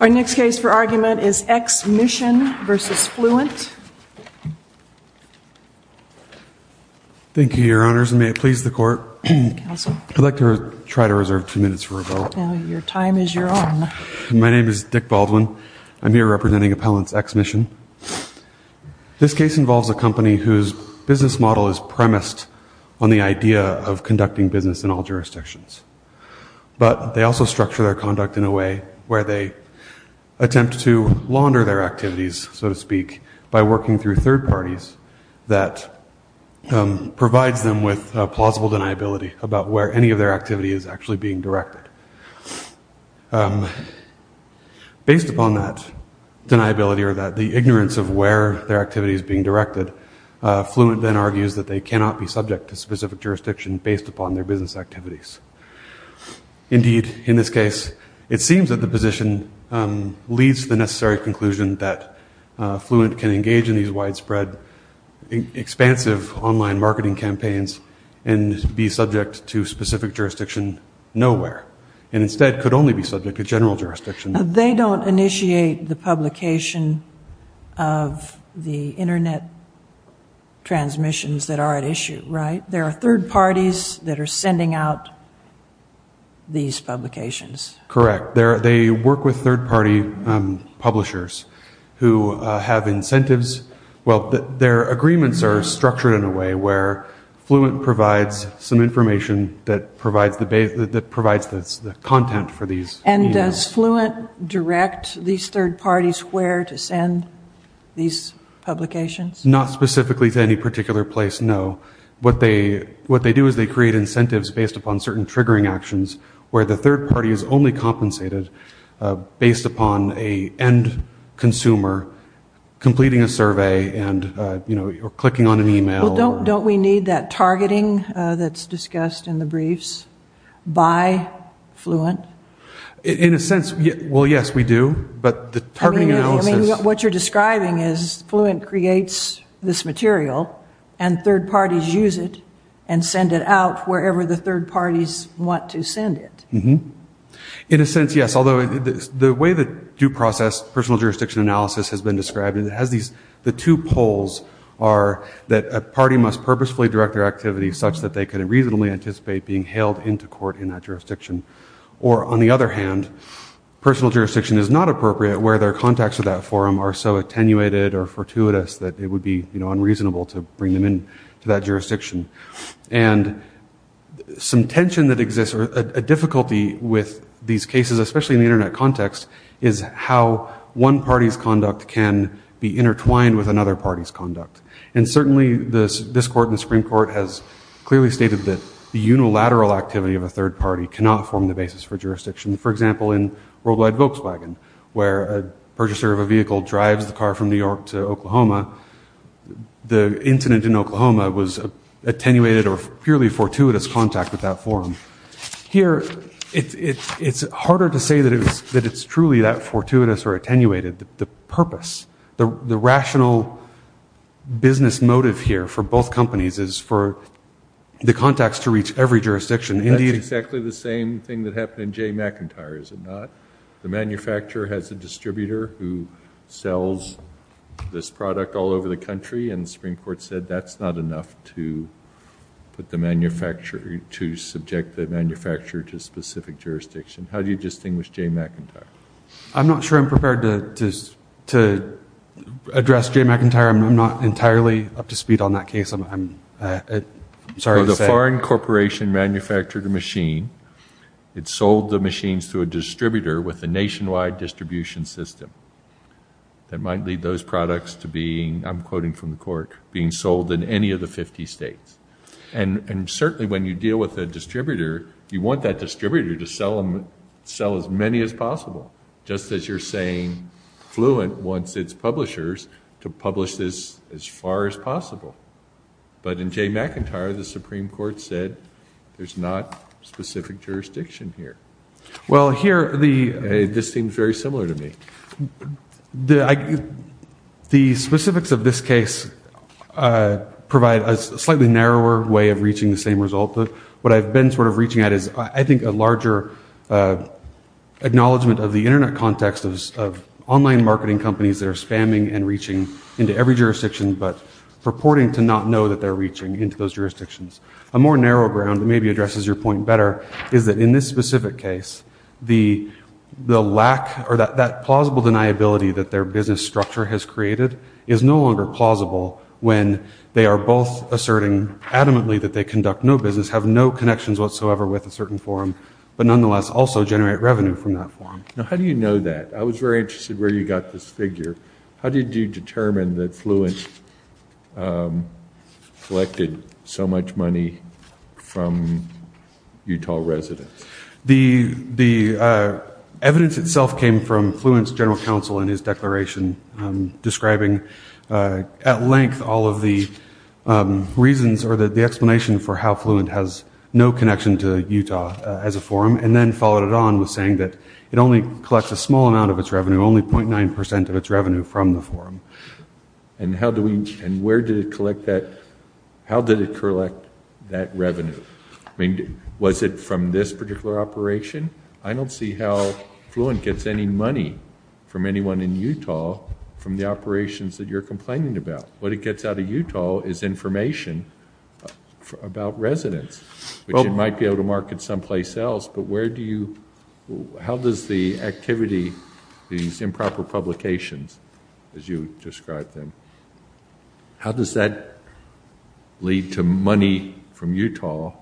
Our next case for argument is XMission v. Fluent. Thank you, Your Honors, and may it please the Court. Counsel. I'd like to try to reserve two minutes for a vote. Your time is your own. My name is Dick Baldwin. I'm here representing Appellants XMission. This case involves a company whose business model is premised on the idea of conducting business in all jurisdictions, but they also structure their conduct in a way where they attempt to launder their activities, so to speak, by working through third parties that provides them with plausible deniability about where any of their activity is actually being directed. Based upon that deniability or the ignorance of where their activity is being directed, Fluent then argues that they cannot be subject to specific jurisdiction based upon their business activities. Indeed, in this case, it seems that the position leads to the necessary conclusion that Fluent can engage in these widespread, expansive online marketing campaigns and be subject to specific jurisdiction nowhere, and instead could only be subject to general jurisdiction. They don't initiate the publication of the Internet transmissions that are at issue, right? There are third parties that are sending out these publications. Correct. They work with third party publishers who have incentives. Well, their agreements are structured in a way where Fluent provides some information that provides the content for these emails. And does Fluent direct these third parties where to send these publications? Not specifically to any particular place, no. What they do is they create incentives based upon certain triggering actions where the third party is only compensated based upon an end consumer completing a survey or clicking on an email. Well, don't we need that targeting that's discussed in the briefs by Fluent? In a sense, well, yes, we do. I mean, what you're describing is Fluent creates this material and third parties use it and send it out wherever the third parties want to send it. In a sense, yes, although the way that due process personal jurisdiction analysis has been described, the two poles are that a party must purposefully direct their activity such that they can reasonably anticipate being hailed into court in that jurisdiction. Or, on the other hand, personal jurisdiction is not appropriate where their contacts with that forum are so attenuated or fortuitous that it would be unreasonable to bring them into that jurisdiction. And some tension that exists or a difficulty with these cases, especially in the Internet context, is how one party's conduct can be intertwined with another party's conduct. And certainly this court in the Supreme Court has clearly stated that the unilateral activity of a third party cannot form the basis for jurisdiction. For example, in Worldwide Volkswagen, where a purchaser of a vehicle drives the car from New York to Oklahoma, the incident in Oklahoma was attenuated or purely fortuitous contact with that forum. Here, it's harder to say that it's truly that fortuitous or attenuated. The purpose, the rational business motive here for both companies is for the contacts to reach every jurisdiction. That's exactly the same thing that happened in Jay McIntyre, is it not? The manufacturer has a distributor who sells this product all over the country, and the Supreme Court said that's not enough to subject the manufacturer to specific jurisdiction. How do you distinguish Jay McIntyre? I'm not sure I'm prepared to address Jay McIntyre. I'm not entirely up to speed on that case. The foreign corporation manufactured the machine. It sold the machines to a distributor with a nationwide distribution system. That might lead those products to being, I'm quoting from the court, being sold in any of the 50 states. And certainly when you deal with a distributor, you want that distributor to sell as many as possible, just as you're saying Fluent wants its publishers to publish this as far as possible. But in Jay McIntyre, the Supreme Court said there's not specific jurisdiction here. Well, here, this seems very similar to me. The specifics of this case provide a slightly narrower way of reaching the same result. What I've been sort of reaching at is, I think, a larger acknowledgement of the Internet context of online marketing companies that are spamming and reaching into every jurisdiction but purporting to not know that they're reaching into those jurisdictions. A more narrow ground that maybe addresses your point better is that in this specific case, the lack or that plausible deniability that their business structure has created is no longer plausible when they are both asserting adamantly that they conduct no business, have no connections whatsoever with a certain forum, but nonetheless also generate revenue from that forum. Now, how do you know that? I was very interested where you got this figure. How did you determine that Fluent collected so much money from Utah residents? The evidence itself came from Fluent's general counsel in his declaration, describing at length all of the reasons or the explanation for how Fluent has no connection to Utah as a forum and then followed it on with saying that it only collects a small amount of its revenue, only 0.9 percent of its revenue from the forum. And where did it collect that? How did it collect that revenue? Was it from this particular operation? I don't see how Fluent gets any money from anyone in Utah from the operations that you're complaining about. What it gets out of Utah is information about residents, which it might be able to market someplace else, but where do you – how does the activity, these improper publications, as you described them, how does that lead to money from Utah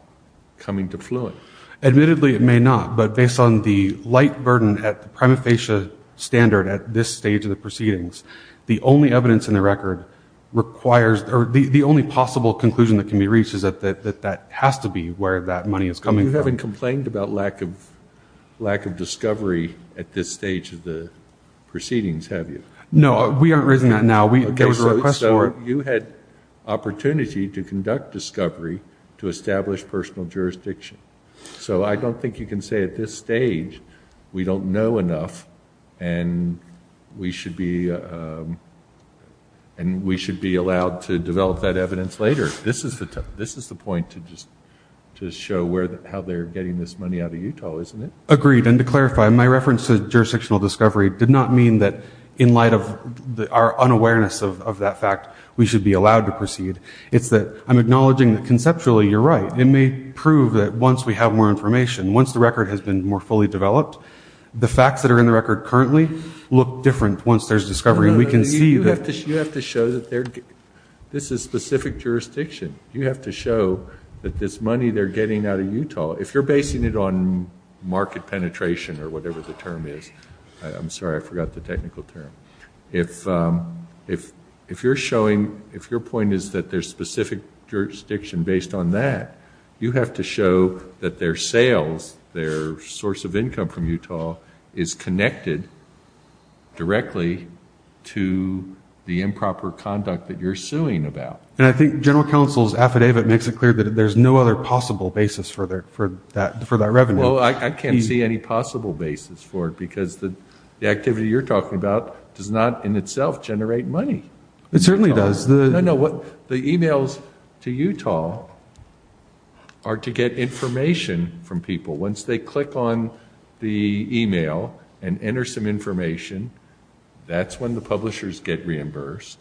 coming to Fluent? Admittedly, it may not, but based on the light burden at the prima facie standard at this stage of the proceedings, the only evidence in the record requires – or the only possible conclusion that can be reached is that that has to be where that money is coming from. You haven't complained about lack of discovery at this stage of the proceedings, have you? No, we aren't raising that now. So you had opportunity to conduct discovery to establish personal jurisdiction. So I don't think you can say at this stage we don't know enough and we should be allowed to develop that evidence later. This is the point to show how they're getting this money out of Utah, isn't it? Agreed, and to clarify, my reference to jurisdictional discovery did not mean that in light of our unawareness of that fact we should be allowed to proceed. It's that I'm acknowledging that conceptually you're right. It may prove that once we have more information, once the record has been more fully developed, the facts that are in the record currently look different once there's discovery. You have to show that this is specific jurisdiction. You have to show that this money they're getting out of Utah – if you're basing it on market penetration or whatever the term is – I'm sorry, I forgot the technical term. If your point is that there's specific jurisdiction based on that, you have to show that their sales, their source of income from Utah, is connected directly to the improper conduct that you're suing about. And I think General Counsel's affidavit makes it clear that there's no other possible basis for that revenue. Well, I can't see any possible basis for it because the activity you're talking about does not in itself generate money. It certainly does. The emails to Utah are to get information from people. Once they click on the email and enter some information, that's when the publishers get reimbursed.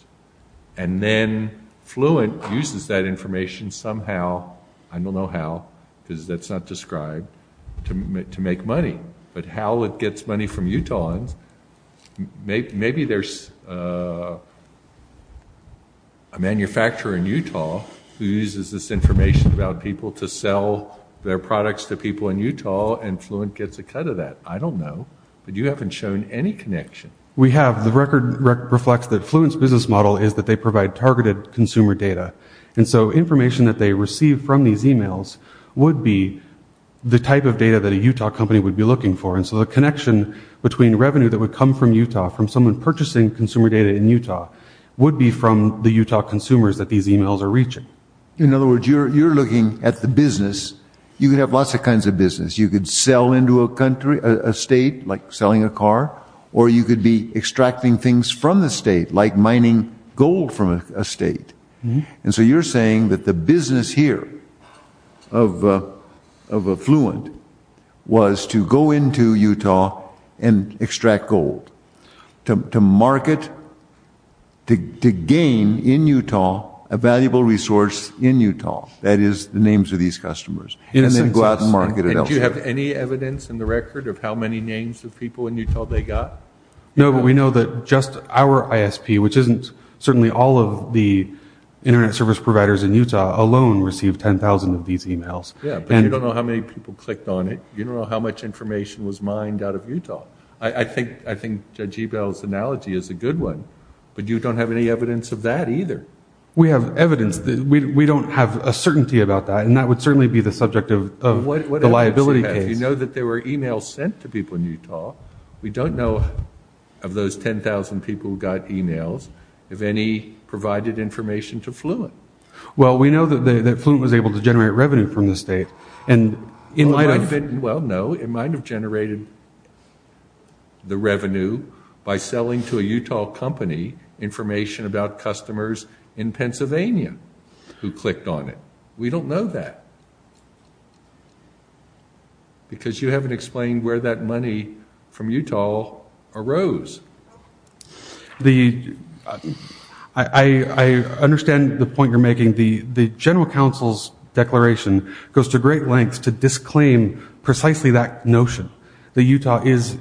And then Fluent uses that information somehow – I don't know how because that's not described – to make money. But how it gets money from Utah – maybe there's a manufacturer in Utah who uses this information about people to sell their products to people in Utah and Fluent gets a cut of that. I don't know, but you haven't shown any connection. We have. The record reflects that Fluent's business model is that they provide targeted consumer data. And so information that they receive from these emails would be the type of data that a Utah company would be looking for. And so the connection between revenue that would come from Utah, from someone purchasing consumer data in Utah, would be from the Utah consumers that these emails are reaching. In other words, you're looking at the business. You could have lots of kinds of business. You could sell into a state, like selling a car. Or you could be extracting things from the state, like mining gold from a state. And so you're saying that the business here of Fluent was to go into Utah and extract gold, to market, to gain in Utah a valuable resource in Utah – that is, the names of these customers – and then go out and market it elsewhere. And do you have any evidence in the record of how many names of people in Utah they got? No, but we know that just our ISP, which isn't certainly all of the Internet service providers in Utah, alone received 10,000 of these emails. Yeah, but you don't know how many people clicked on it. You don't know how much information was mined out of Utah. I think Judge Ebell's analogy is a good one, but you don't have any evidence of that either. We have evidence. We don't have a certainty about that, and that would certainly be the subject of the liability case. What evidence do you have? You know that there were emails sent to people in Utah. We don't know, of those 10,000 people who got emails, if any provided information to Fluent. Well, we know that Fluent was able to generate revenue from the state. Well, no, it might have generated the revenue by selling to a Utah company information about customers in Pennsylvania who clicked on it. We don't know that because you haven't explained where that money from Utah arose. I understand the point you're making. The general counsel's declaration goes to great lengths to disclaim precisely that notion, that Utah is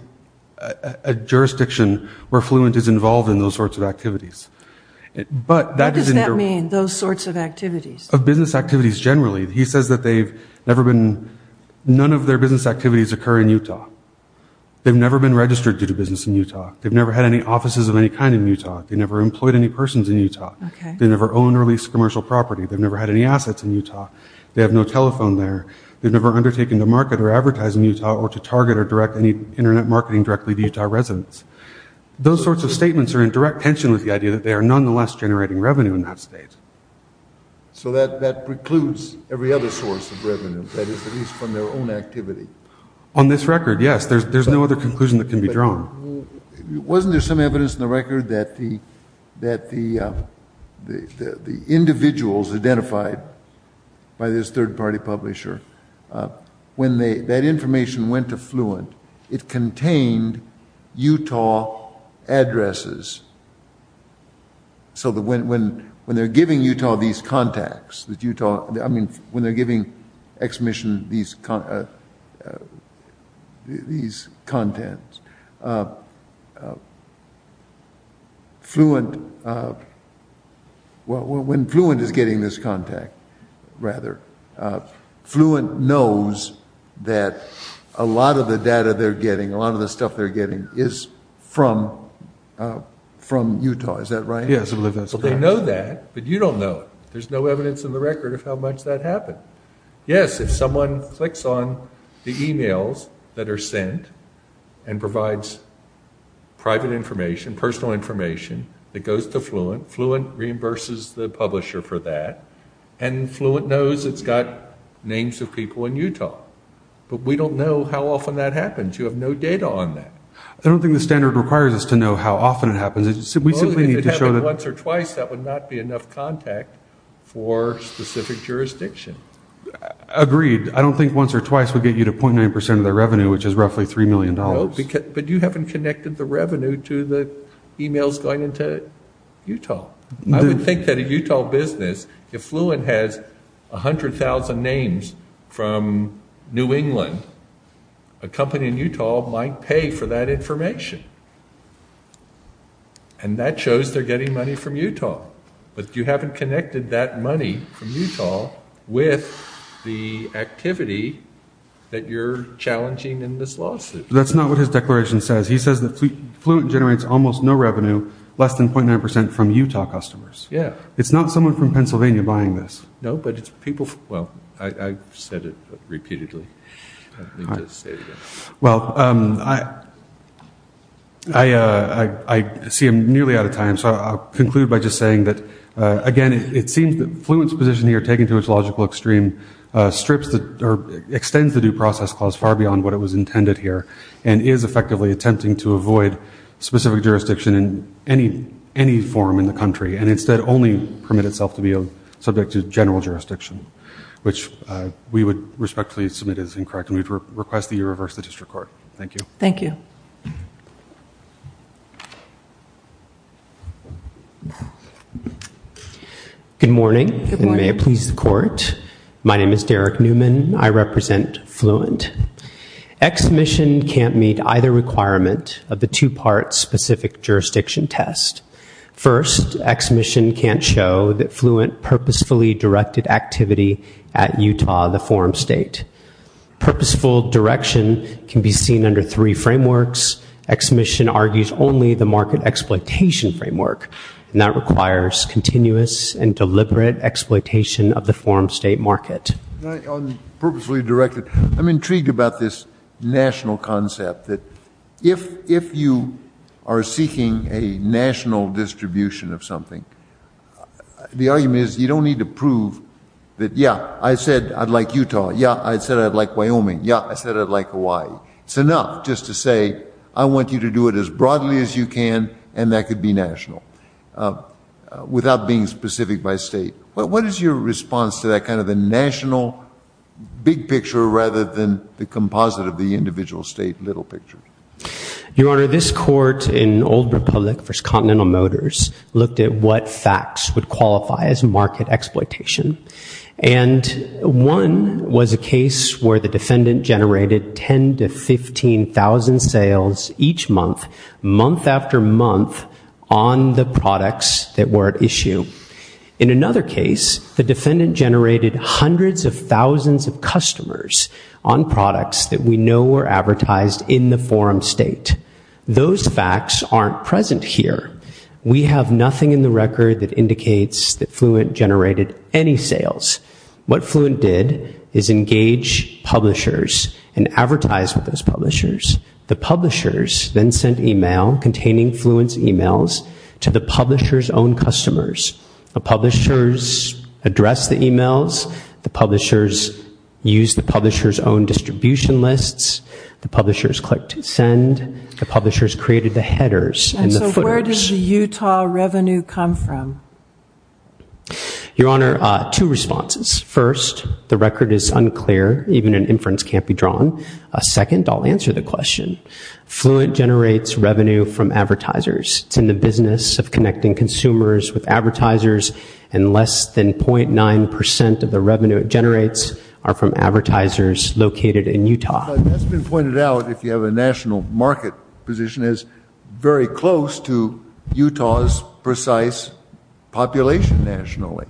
a jurisdiction where Fluent is involved in those sorts of activities. What does that mean, those sorts of activities? Of business activities generally. He says that none of their business activities occur in Utah. They've never been registered to do business in Utah. They've never had any offices of any kind in Utah. They've never employed any persons in Utah. They've never owned or leased commercial property. They've never had any assets in Utah. They have no telephone there. They've never undertaken to market or advertise in Utah or to target or direct any Internet marketing directly to Utah residents. Those sorts of statements are in direct tension with the idea that they are nonetheless generating revenue in that state. So that precludes every other source of revenue, that is, at least from their own activity. On this record, yes. There's no other conclusion that can be drawn. Wasn't there some evidence in the record that the individuals identified by this third-party publisher, when that information went to Fluent, it contained Utah addresses? So that when they're giving Utah these contacts, I mean, when they're giving Ex-Mission these contents, when Fluent is getting this contact, rather, Fluent knows that a lot of the data they're getting, a lot of the stuff they're getting, is from Utah. Is that right? Yes, I believe that's correct. Well, they know that, but you don't know it. There's no evidence in the record of how much that happened. Yes, if someone clicks on the emails that are sent and provides private information, personal information, that goes to Fluent, Fluent reimburses the publisher for that, and Fluent knows it's got names of people in Utah. But we don't know how often that happens. You have no data on that. I don't think the standard requires us to know how often it happens. If it happened once or twice, that would not be enough contact for specific jurisdiction. Agreed. I don't think once or twice would get you to 0.9% of the revenue, which is roughly $3 million. But you haven't connected the revenue to the emails going into Utah. I would think that a Utah business, if Fluent has 100,000 names from New England, a company in Utah might pay for that information, and that shows they're getting money from Utah. But you haven't connected that money from Utah with the activity that you're challenging in this lawsuit. That's not what his declaration says. He says that Fluent generates almost no revenue, less than 0.9% from Utah customers. Yes. It's not someone from Pennsylvania buying this. I've said it repeatedly. I see I'm nearly out of time, so I'll conclude by just saying that, again, it seems that Fluent's position here, taken to its logical extreme, extends the Due Process Clause far beyond what it was intended here, and is effectively attempting to avoid specific jurisdiction in any form in the country, and instead only permit itself to be subject to general jurisdiction, which we would respectfully submit as incorrect, and we request that you reverse the district court. Thank you. Thank you. Good morning, and may it please the Court. My name is Derek Newman. I represent Fluent. Ex-mission can't meet either requirement of the two-part specific jurisdiction test. First, ex-mission can't show that Fluent purposefully directed activity at Utah, the forum state. Purposeful direction can be seen under three frameworks. Ex-mission argues only the market exploitation framework, and that requires continuous and deliberate exploitation of the forum state market. On purposefully directed, I'm intrigued about this national concept, that if you are seeking a national distribution of something, the argument is you don't need to prove that, yeah, I said I'd like Utah. Yeah, I said I'd like Wyoming. Yeah, I said I'd like Hawaii. It's enough just to say I want you to do it as broadly as you can, and that could be national, without being specific by state. What is your response to that kind of a national big picture rather than the composite of the individual state little picture? Your Honor, this court in Old Republic v. Continental Motors looked at what facts would qualify as market exploitation, and one was a case where the defendant generated 10,000 to 15,000 sales each month, In another case, the defendant generated hundreds of thousands of customers on products that we know were advertised in the forum state. Those facts aren't present here. We have nothing in the record that indicates that Fluent generated any sales. What Fluent did is engage publishers and advertise with those publishers. The publishers then sent email containing Fluent's emails to the publishers' own customers. The publishers addressed the emails. The publishers used the publishers' own distribution lists. The publishers clicked send. The publishers created the headers and the footers. And so where does the Utah revenue come from? Your Honor, two responses. First, the record is unclear. Even an inference can't be drawn. Second, I'll answer the question. Fluent generates revenue from advertisers. It's in the business of connecting consumers with advertisers, and less than 0.9% of the revenue it generates are from advertisers located in Utah. But that's been pointed out, if you have a national market position, as very close to Utah's precise population nationally.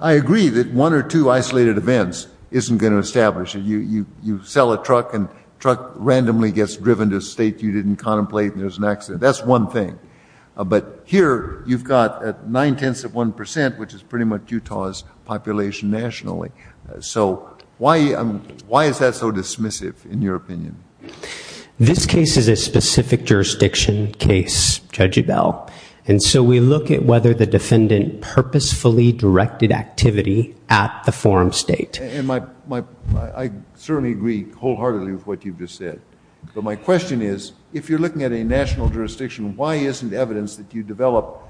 I agree that one or two isolated events isn't going to establish it. You sell a truck and the truck randomly gets driven to a state you didn't contemplate, and there's an accident. That's one thing. But here you've got 9 tenths of 1%, which is pretty much Utah's population nationally. So why is that so dismissive in your opinion? This case is a specific jurisdiction case, Judge Ebell. And so we look at whether the defendant purposefully directed activity at the forum state. I certainly agree wholeheartedly with what you've just said. But my question is, if you're looking at a national jurisdiction, why isn't evidence that you develop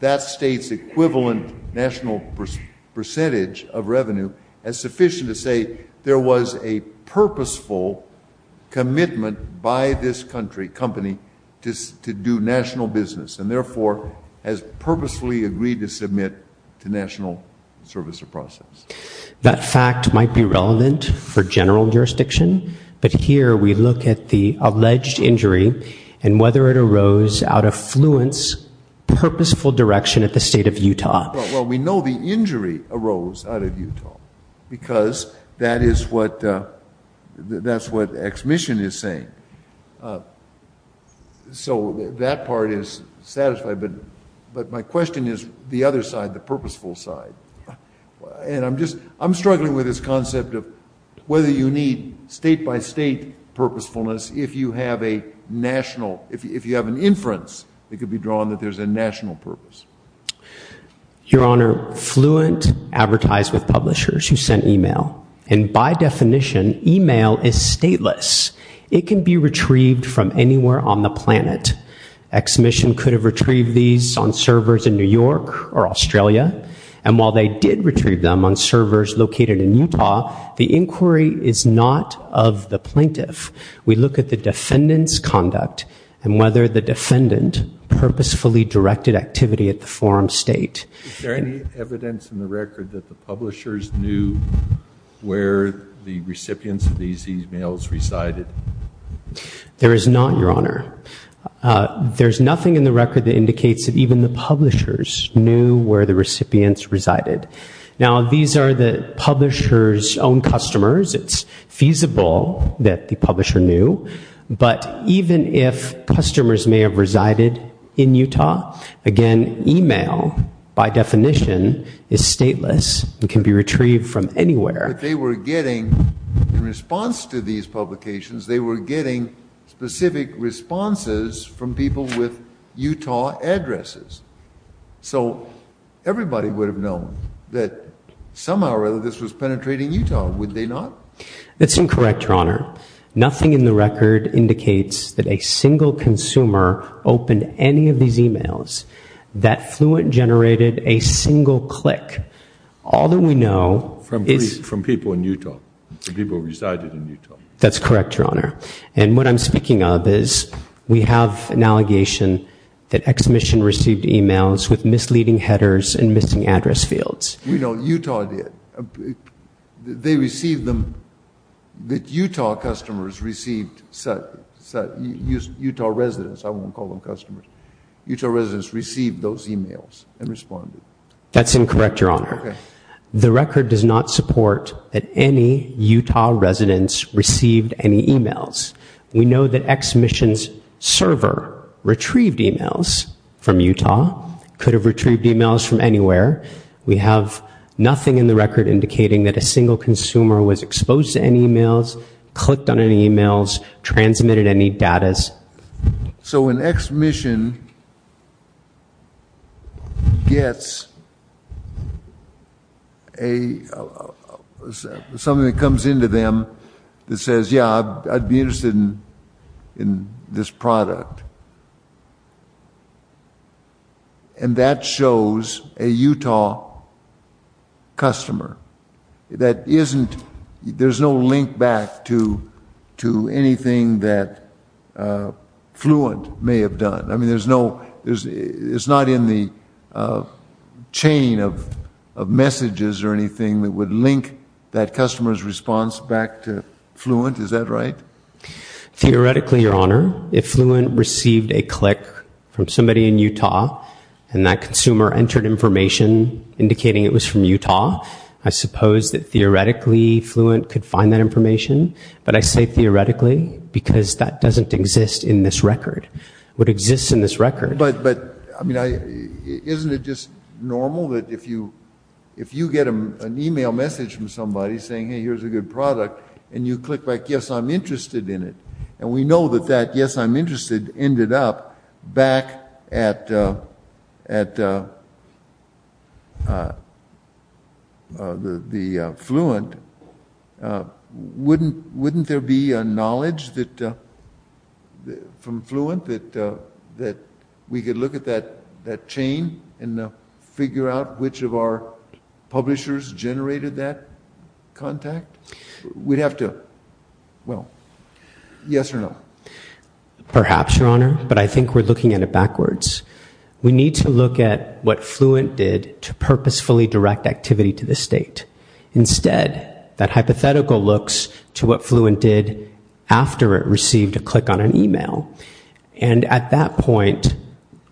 that state's equivalent national percentage of revenue as sufficient to say there was a purposeful commitment by this country, company, to do national business, and therefore has purposefully agreed to submit to national service or process? That fact might be relevant for general jurisdiction, but here we look at the alleged injury and whether it arose out of fluent, purposeful direction at the state of Utah. Well, we know the injury arose out of Utah because that is what Ex Mission is saying. So that part is satisfied. But my question is the other side, the purposeful side. And I'm struggling with this concept of whether you need state-by-state purposefulness if you have an inference that could be drawn that there's a national purpose. Your Honor, fluent advertise with publishers who send e-mail. And by definition, e-mail is stateless. It can be retrieved from anywhere on the planet. Ex Mission could have retrieved these on servers in New York or Australia. And while they did retrieve them on servers located in Utah, the inquiry is not of the plaintiff. We look at the defendant's conduct and whether the defendant purposefully directed activity at the forum state. Is there any evidence in the record that the publishers knew where the recipients of these e-mails resided? There is not, Your Honor. There's nothing in the record that indicates that even the publishers knew where the recipients resided. Now, these are the publishers' own customers. It's feasible that the publisher knew. But even if customers may have resided in Utah, again, e-mail, by definition, is stateless. It can be retrieved from anywhere. But they were getting, in response to these publications, they were getting specific responses from people with Utah addresses. So everybody would have known that somehow or other this was penetrating Utah, would they not? That's incorrect, Your Honor. Nothing in the record indicates that a single consumer opened any of these e-mails. That fluent generated a single click. All that we know is- From people in Utah, people who resided in Utah. That's correct, Your Honor. And what I'm speaking of is we have an allegation that Ex-Mission received e-mails with misleading headers and missing address fields. We know Utah did. They received them, that Utah customers received, Utah residents, I won't call them customers, Utah residents received those e-mails and responded. That's incorrect, Your Honor. The record does not support that any Utah residents received any e-mails. We know that Ex-Mission's server retrieved e-mails from Utah, could have retrieved e-mails from anywhere. We have nothing in the record indicating that a single consumer was exposed to any e-mails, clicked on any e-mails, transmitted any data. So when Ex-Mission gets something that comes into them that says, yeah, I'd be interested in this product, and that shows a Utah customer. There's no link back to anything that Fluent may have done. I mean, it's not in the chain of messages or anything that would link that customer's response back to Fluent. Is that right? Theoretically, Your Honor. If Fluent received a click from somebody in Utah, and that consumer entered information indicating it was from Utah, I suppose that theoretically Fluent could find that information. But I say theoretically because that doesn't exist in this record. What exists in this record. But, I mean, isn't it just normal that if you get an e-mail message from somebody saying, hey, here's a good product, and you click back, yes, I'm interested in it. And we know that that yes, I'm interested ended up back at the Fluent. Wouldn't there be a knowledge from Fluent that we could look at that chain and figure out which of our publishers generated that contact? We'd have to, well, yes or no? Perhaps, Your Honor, but I think we're looking at it backwards. We need to look at what Fluent did to purposefully direct activity to the state. Instead, that hypothetical looks to what Fluent did after it received a click on an e-mail. And at that point,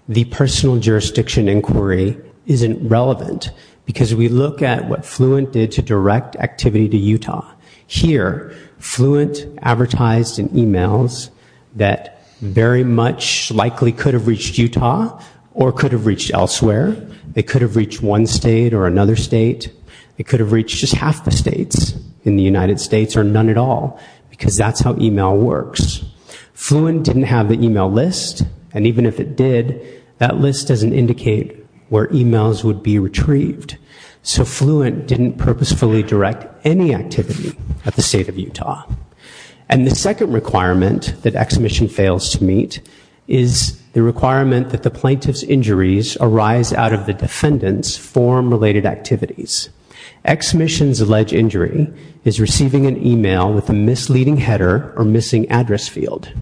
the personal jurisdiction inquiry isn't relevant because we look at what Fluent did to direct activity to Utah. Here, Fluent advertised in e-mails that very much likely could have reached Utah or could have reached elsewhere. It could have reached one state or another state. It could have reached just half the states in the United States or none at all because that's how e-mail works. Fluent didn't have the e-mail list, and even if it did, that list doesn't indicate where e-mails would be retrieved. So Fluent didn't purposefully direct any activity at the state of Utah. And the second requirement that Exmission fails to meet is the requirement that the plaintiff's injuries arise out of the defendant's form-related activities. Exmission's alleged injury is receiving an e-mail with a misleading header or missing address field.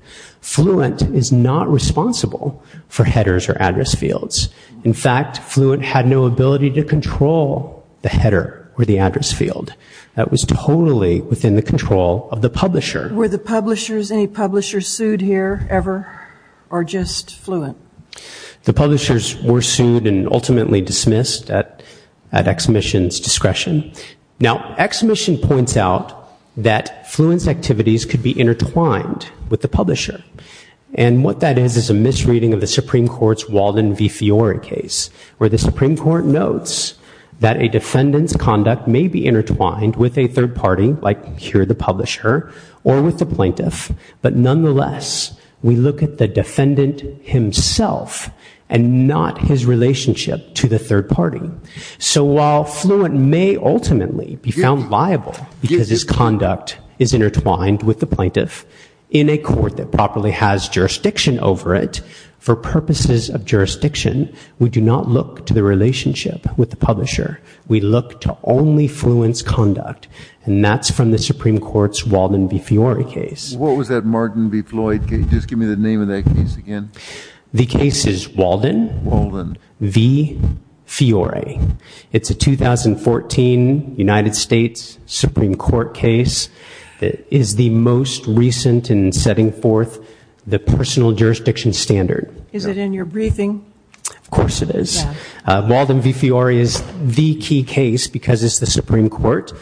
Fluent is not responsible for headers or address fields. In fact, Fluent had no ability to control the header or the address field. That was totally within the control of the publisher. Were the publishers, any publishers sued here ever or just Fluent? The publishers were sued and ultimately dismissed at Exmission's discretion. Now Exmission points out that Fluent's activities could be intertwined with the publisher. And what that is is a misreading of the Supreme Court's Walden v. Fiore case where the Supreme Court notes that a defendant's conduct may be intertwined with a third party like here the publisher or with the plaintiff, but nonetheless we look at the defendant himself and not his relationship to the third party. So while Fluent may ultimately be found liable because his conduct is intertwined with the plaintiff in a court that properly has jurisdiction over it, for purposes of jurisdiction we do not look to the relationship with the publisher. We look to only Fluent's conduct. And that's from the Supreme Court's Walden v. Fiore case. What was that Martin v. Floyd case? Just give me the name of that case again. The case is Walden v. Fiore. It's a 2014 United States Supreme Court case. It is the most recent in setting forth the personal jurisdiction standard. Is it in your briefing? Of course it is. Walden v. Fiore is the key case because it's the Supreme Court.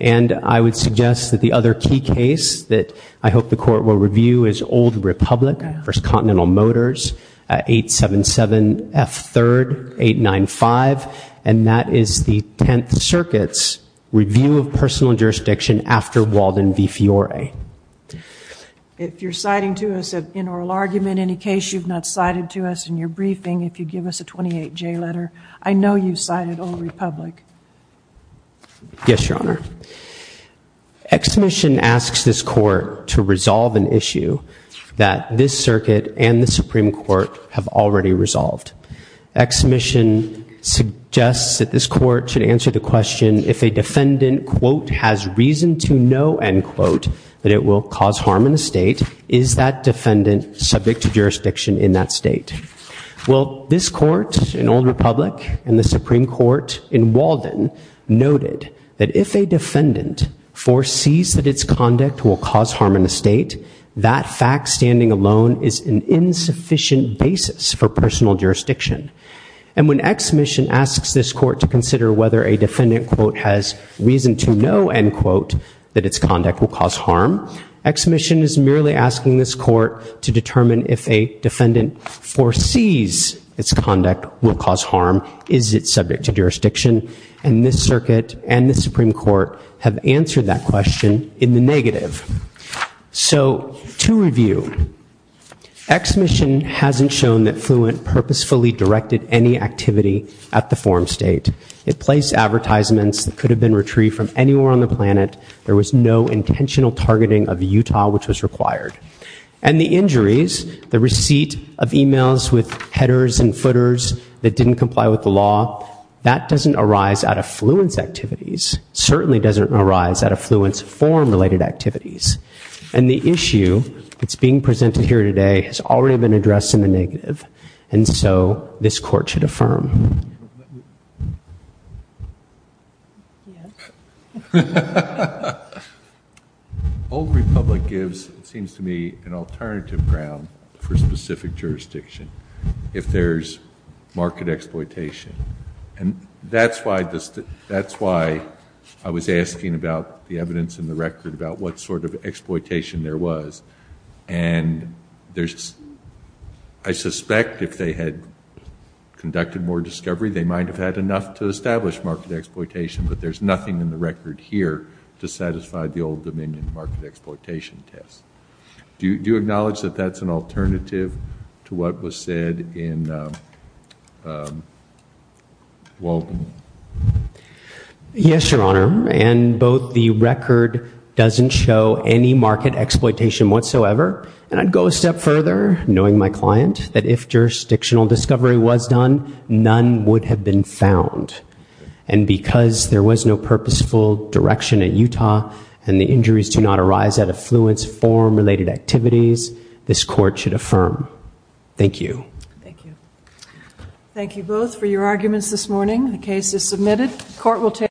And I would suggest that the other key case that I hope the court will review is Old Republic v. Continental Motors, 877F3-895, and that is the Tenth Circuit's review of personal jurisdiction after Walden v. Fiore. If you're citing to us an inoral argument, any case you've not cited to us in your briefing, if you give us a 28-J letter, I know you've cited Old Republic. Yes, Your Honor. Exommission asks this court to resolve an issue that this circuit and the Supreme Court have already resolved. Exommission suggests that this court should answer the question, if a defendant, quote, has reason to know, end quote, that it will cause harm in the state, is that defendant subject to jurisdiction in that state? Well, this court in Old Republic and the Supreme Court in Walden noted that if a defendant foresees that its conduct will cause harm in the state, that fact standing alone is an insufficient basis for personal jurisdiction. And when Exommission asks this court to consider whether a defendant, quote, has reason to know, end quote, that its conduct will cause harm, Exommission is merely asking this court to determine if a defendant foresees its conduct will cause harm. Is it subject to jurisdiction? And this circuit and the Supreme Court have answered that question in the negative. So, to review, Exommission hasn't shown that Fluent purposefully directed any activity at the forum state. It placed advertisements that could have been retrieved from anywhere on the planet. There was no intentional targeting of Utah, which was required. And the injuries, the receipt of emails with headers and footers that didn't comply with the law, that doesn't arise out of Fluent's activities. It certainly doesn't arise out of Fluent's forum-related activities. And the issue that's being presented here today has already been addressed in the negative. And so this court should affirm. Old Republic gives, it seems to me, an alternative ground for specific jurisdiction. If there's market exploitation. And that's why I was asking about the evidence in the record about what sort of exploitation there was. And I suspect if they had conducted more discovery, they might have had enough to establish market exploitation, but there's nothing in the record here to satisfy the Old Dominion market exploitation test. Do you acknowledge that that's an alternative to what was said in Walden? Yes, Your Honor. And both the record doesn't show any market exploitation whatsoever. And I'd go a step further, knowing my client, that if jurisdictional discovery was done, none would have been found. And because there was no purposeful direction at Utah, and the injuries do not arise out of Fluent's forum-related activities, this court should affirm. Thank you. Thank you. Thank you both for your arguments this morning. The case is submitted.